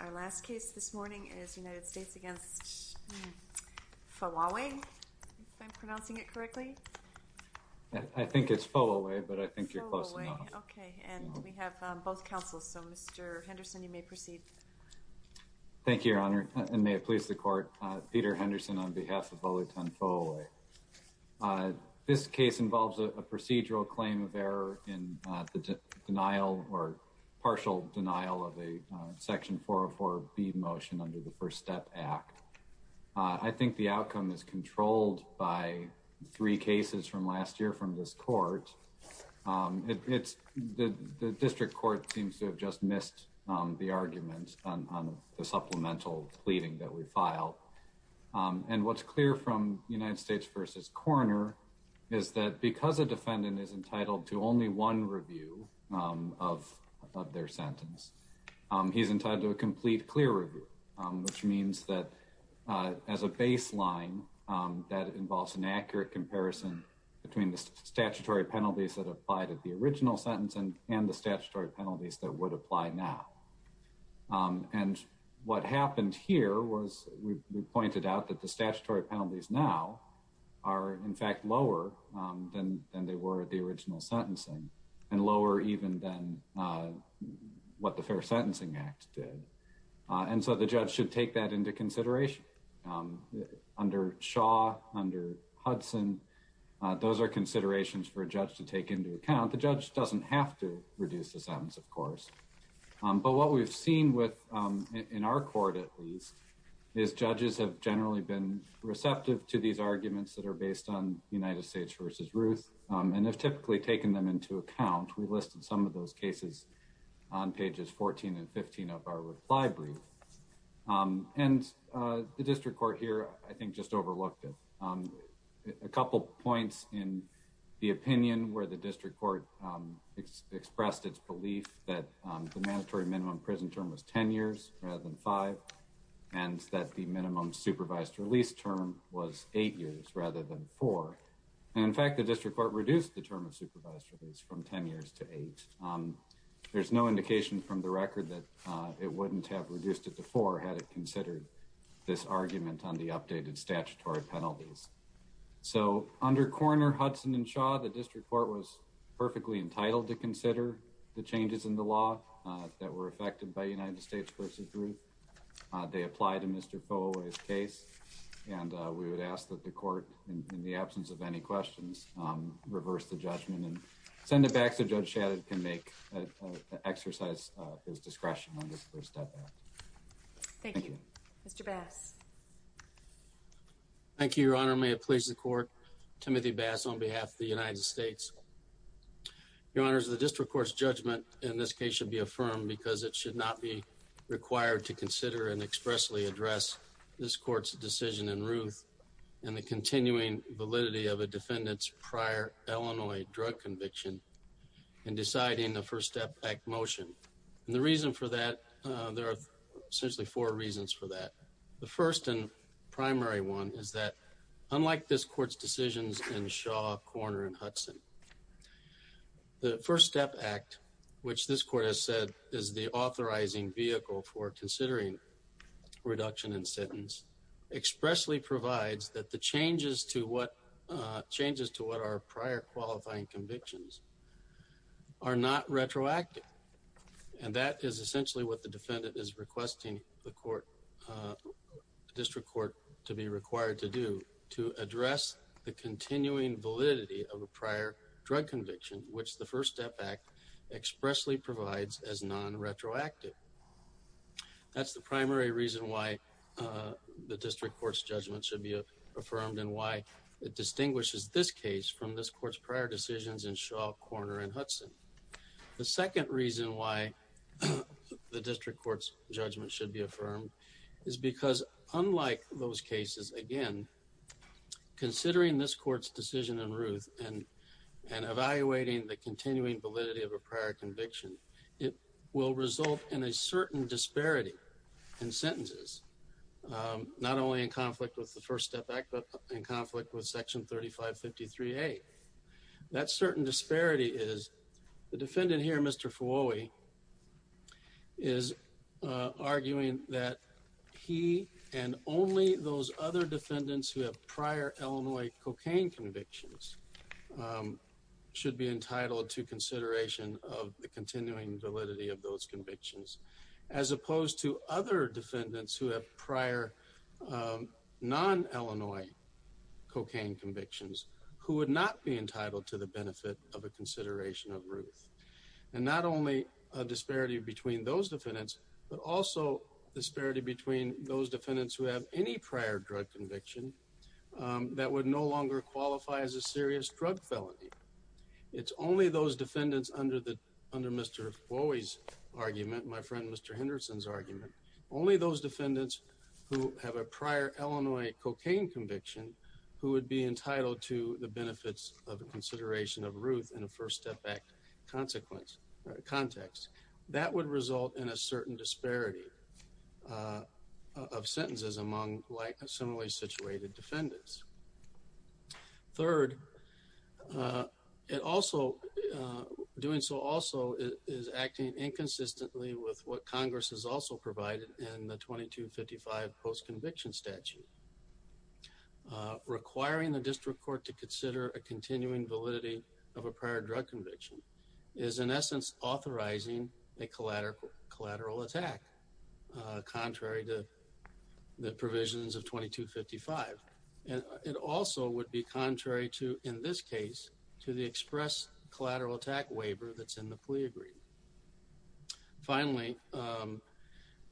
Our last case this morning is United States v. Fowowe, if I'm pronouncing it correctly. I think it's Fowowe, but I think you're close enough. Fowowe. Okay. And we have both counsels. So, Mr. Henderson, you may proceed. Thank you, Your Honor, and may it please the Court. Peter Henderson on behalf of Olaitan Fowowe. This case involves a procedural claim of error in the denial or partial denial of a section 404 B motion under the First Step Act. I think the outcome is controlled by three cases from last year from this court. The district court seems to have just missed the argument on the supplemental pleading that we filed. And what's clear from United States v. Coroner is that because a defendant is entitled to only one review of their sentence, he's entitled to a complete clear review, which means that as a baseline, that involves an accurate comparison between the statutory penalties that applied at the original sentence and the statutory penalties that would apply now. And what happened here was we pointed out that the statutory penalties now are in fact lower than they were at the original sentencing and lower even than what the Fair Sentencing Act did. And so the judge should take that into consideration. Under Shaw, under Hudson, those are considerations for a judge to take into account. The judge doesn't have to reduce the sentence, of course. But what we've seen with, in our court at least, is judges have generally been receptive to these arguments that are based on United States v. Ruth and have typically taken them into account. We listed some of those cases on pages 14 and 15 of our reply brief. And the district court here, I think, just overlooked it. A couple points in the opinion where the district court expressed its belief that the mandatory minimum prison term was 10 years rather than 5 and that the minimum supervised release term was 8 years rather than 4. And in fact, the district court reduced the term of supervised release from 10 years to 8. There's no indication from the record that it wouldn't have reduced it to 4 had it considered this argument on the updated statutory penalties. So under Coroner Hudson and Shaw, the district court was perfectly entitled to consider the changes in the law that were affected by United States v. Ruth. They applied to Mr. Followay's case and we would ask that the court, in the absence of any questions, reverse the judgment and send it back so Judge Shadid can make an exercise of his discretion on this first step. Thank you. Mr. Bass. Thank you, Your Honor. May it please the court. Timothy Bass on behalf of the United States. Your Honor, the district court's judgment in this case should be affirmed because it should not be required to consider and expressly address this court's decision in Ruth and the continuing validity of a defendant's prior Illinois drug conviction in deciding the First Step Act motion. And the reason for that, there are essentially four reasons for that. The first and primary one is that unlike this court's decisions in Shaw, Coroner, and Hudson, the First Step Act, which this court has said is the authorizing vehicle for considering reduction in sentence, expressly provides that the changes to what, changes to what are prior qualifying convictions, are not retroactive. And that is essentially what the defendant is requesting the court, the district court to be required to do, to address the continuing validity of a prior drug conviction, which the First Step Act expressly provides as non-retroactive. That's the primary reason why the district court's judgment should be affirmed and why it distinguishes this case from this court's prior decisions in Shaw, Coroner, and Hudson. The second reason why the district court's judgment should be affirmed is because unlike those cases, again, considering this court's decision in Ruth and evaluating the continuing validity of a prior conviction, it will result in a certain disparity in sentences, not only in conflict with the First Step Act, but in conflict with Section 3553A. That certain disparity is, the defendant here, Mr. Fuoi, is arguing that he and only those other defendants who have prior Illinois cocaine convictions should be entitled to consideration of the continuing validity of those convictions, as opposed to other defendants who have prior non-Illinois cocaine convictions who would not be entitled to the benefit of a consideration of Ruth. And not only a disparity between those defendants, but also a disparity between those defendants who have any prior drug conviction that would no longer qualify as a serious drug felony. It's only those defendants under Mr. Fuoi's argument, my friend Mr. Henderson's argument, only those defendants who have a prior Illinois cocaine conviction who would be entitled to the benefits of consideration of Ruth in a First Step Act context. That would result in a certain disparity of sentences among similarly situated defendants. Third, it also, doing so also is acting inconsistently with what Congress has also provided in the 2255 post-conviction statute. Requiring the district court to consider a continuing validity of a prior drug conviction is in essence authorizing a collateral attack, contrary to the provisions of 2255. It also would be contrary to, in this case, to the express collateral attack waiver that's in the plea agreement. Finally,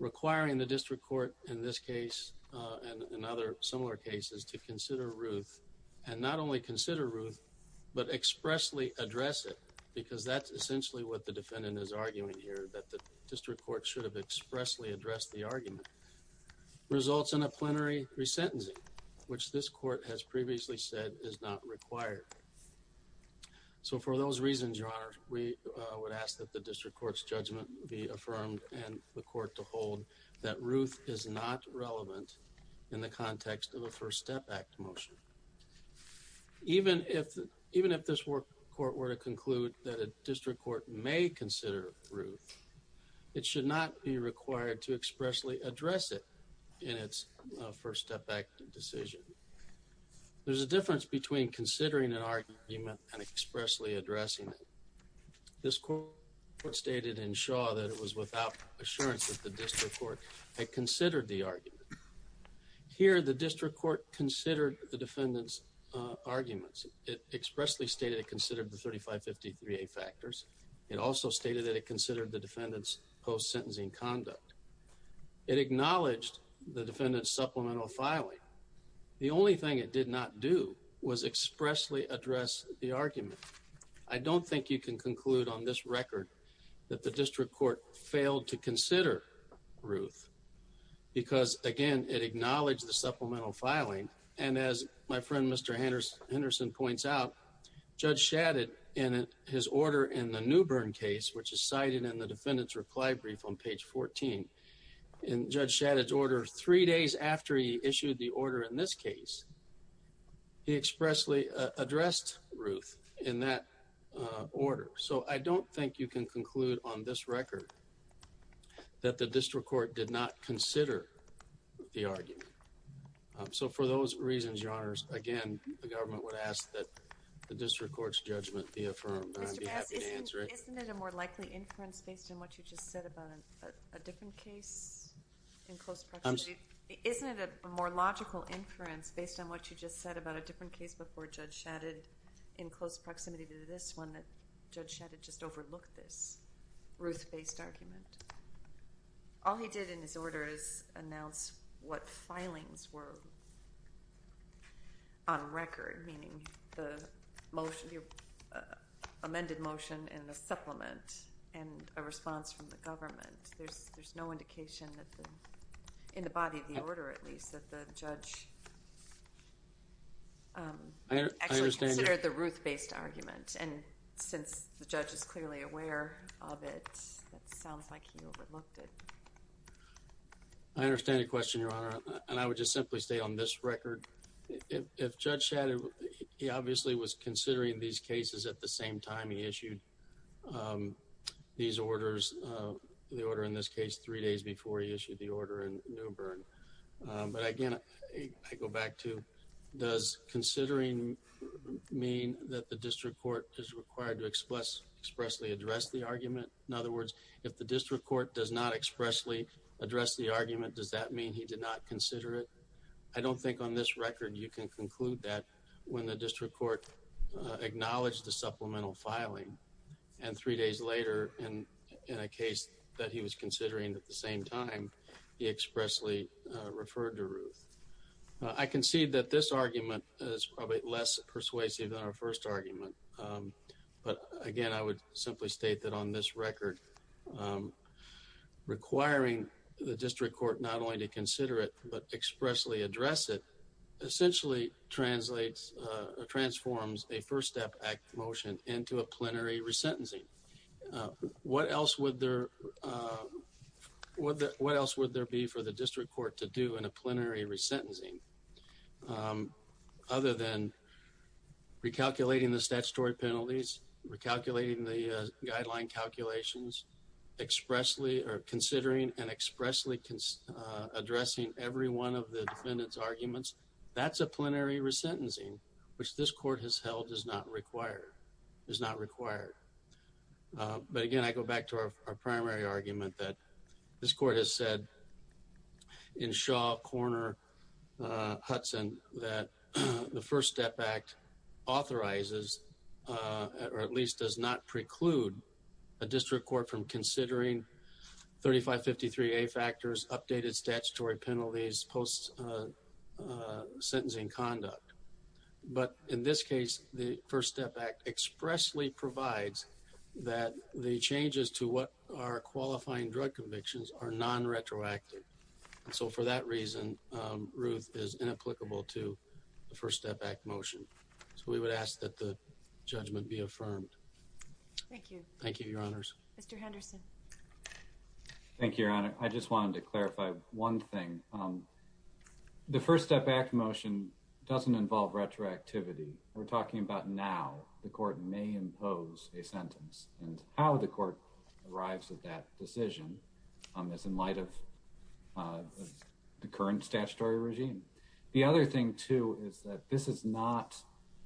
requiring the district court in this case, and in other similar cases, to consider Ruth, and not only consider Ruth, but expressly address it, because that's essentially what the defendant is arguing here, that the district court should have expressly addressed the which this court has previously said is not required. So for those reasons, Your Honor, we would ask that the district court's judgment be affirmed and the court to hold that Ruth is not relevant in the context of a First Step Act motion. Even if this court were to conclude that a district court may consider Ruth, it should not be required to expressly address it in its First Step Act decision. There's a difference between considering an argument and expressly addressing it. This court stated in Shaw that it was without assurance that the district court had considered the argument. Here the district court considered the defendant's arguments. It expressly stated it considered the 3553A factors. It also stated that it considered the defendant's post-sentencing conduct. It acknowledged the defendant's supplemental filing. The only thing it did not do was expressly address the argument. I don't think you can conclude on this record that the district court failed to consider Ruth, because, again, it acknowledged the supplemental filing. As my friend Mr. Henderson points out, Judge Shadid, in his order in the Newbern case, which is cited in the defendant's reply brief on page 14, in Judge Shadid's order three days after he issued the order in this case, he expressly addressed Ruth in that order. So I don't think you can conclude on this record that the district court did not consider the argument. So, for those reasons, Your Honors, again, the government would ask that the district court's judgment be affirmed, and I'd be happy to answer it. Isn't it a more likely inference based on what you just said about a different case in close proximity? I'm sorry? Isn't it a more logical inference based on what you just said about a different case before Judge Shadid in close proximity to this one that Judge Shadid just overlooked this Ruth-based argument? All he did in his order is announce what filings were on record, meaning the motion, the amended motion and the supplement, and a response from the government. There's no indication in the body of the order, at least, that the judge actually considered the Ruth-based argument. And since the judge is clearly aware of it, it sounds like he overlooked it. I understand the question, Your Honor, and I would just simply stay on this record. If Judge Shadid, he obviously was considering these cases at the same time he issued these orders, the order in this case, three days before he issued the order in New Bern. But again, I go back to does considering mean that the district court is required to expressly address the argument? In other words, if the district court does not expressly address the argument, does that mean he did not consider it? I don't think on this record you can conclude that when the district court acknowledged the supplemental filing and three days later in a case that he was considering at the same time, he expressly referred to Ruth. I concede that this argument is probably less persuasive than our first argument. But again, I would simply state that on this record, requiring the district court not only to consider it, but expressly address it, essentially translates or transforms a First Step Act motion into a plenary resentencing. What else would there be for the district court to do in a plenary resentencing? Other than recalculating the statutory penalties, recalculating the guideline calculations, considering and expressly addressing every one of the defendant's arguments, that's a plenary resentencing, which this court has held is not required, is not required. But again, I go back to our primary argument that this court has said in Shaw, Corner, Hudson that the First Step Act authorizes or at least does not preclude a district court from considering 3553A factors, updated statutory penalties, post-sentencing conduct. But in this case, the First Step Act expressly provides that the changes to what are qualifying drug convictions are non-retroactive. So for that reason, Ruth is inapplicable to the First Step Act motion. So we would ask that the judgment be affirmed. Thank you. Thank you, Your Honors. Mr. Henderson. Thank you, Your Honor. I just wanted to clarify one thing. The First Step Act motion doesn't involve retroactivity. We're talking about now. The court may impose a sentence, and how the court arrives at that decision is in light of the current statutory regime. The other thing, too, is that this is not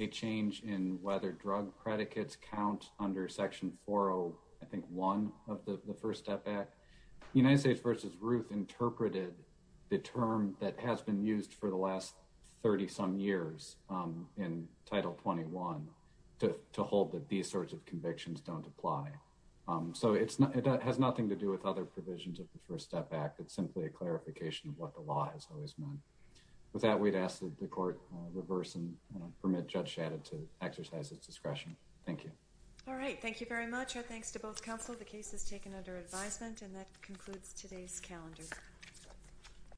a change in whether drug predicates count under Section 401 of the First Step Act. United States v. Ruth interpreted the term that has been used for the last 30-some years in Title 21 to hold that these sorts of convictions don't apply. So it has nothing to do with other provisions of the First Step Act. It's simply a clarification of what the law has always meant. With that, we'd ask that the court reverse and permit Judge Shadid to exercise its discretion. Thank you. All right. Thank you very much. Our thanks to both counsel. The case is taken under advisement, and that concludes today's calendar.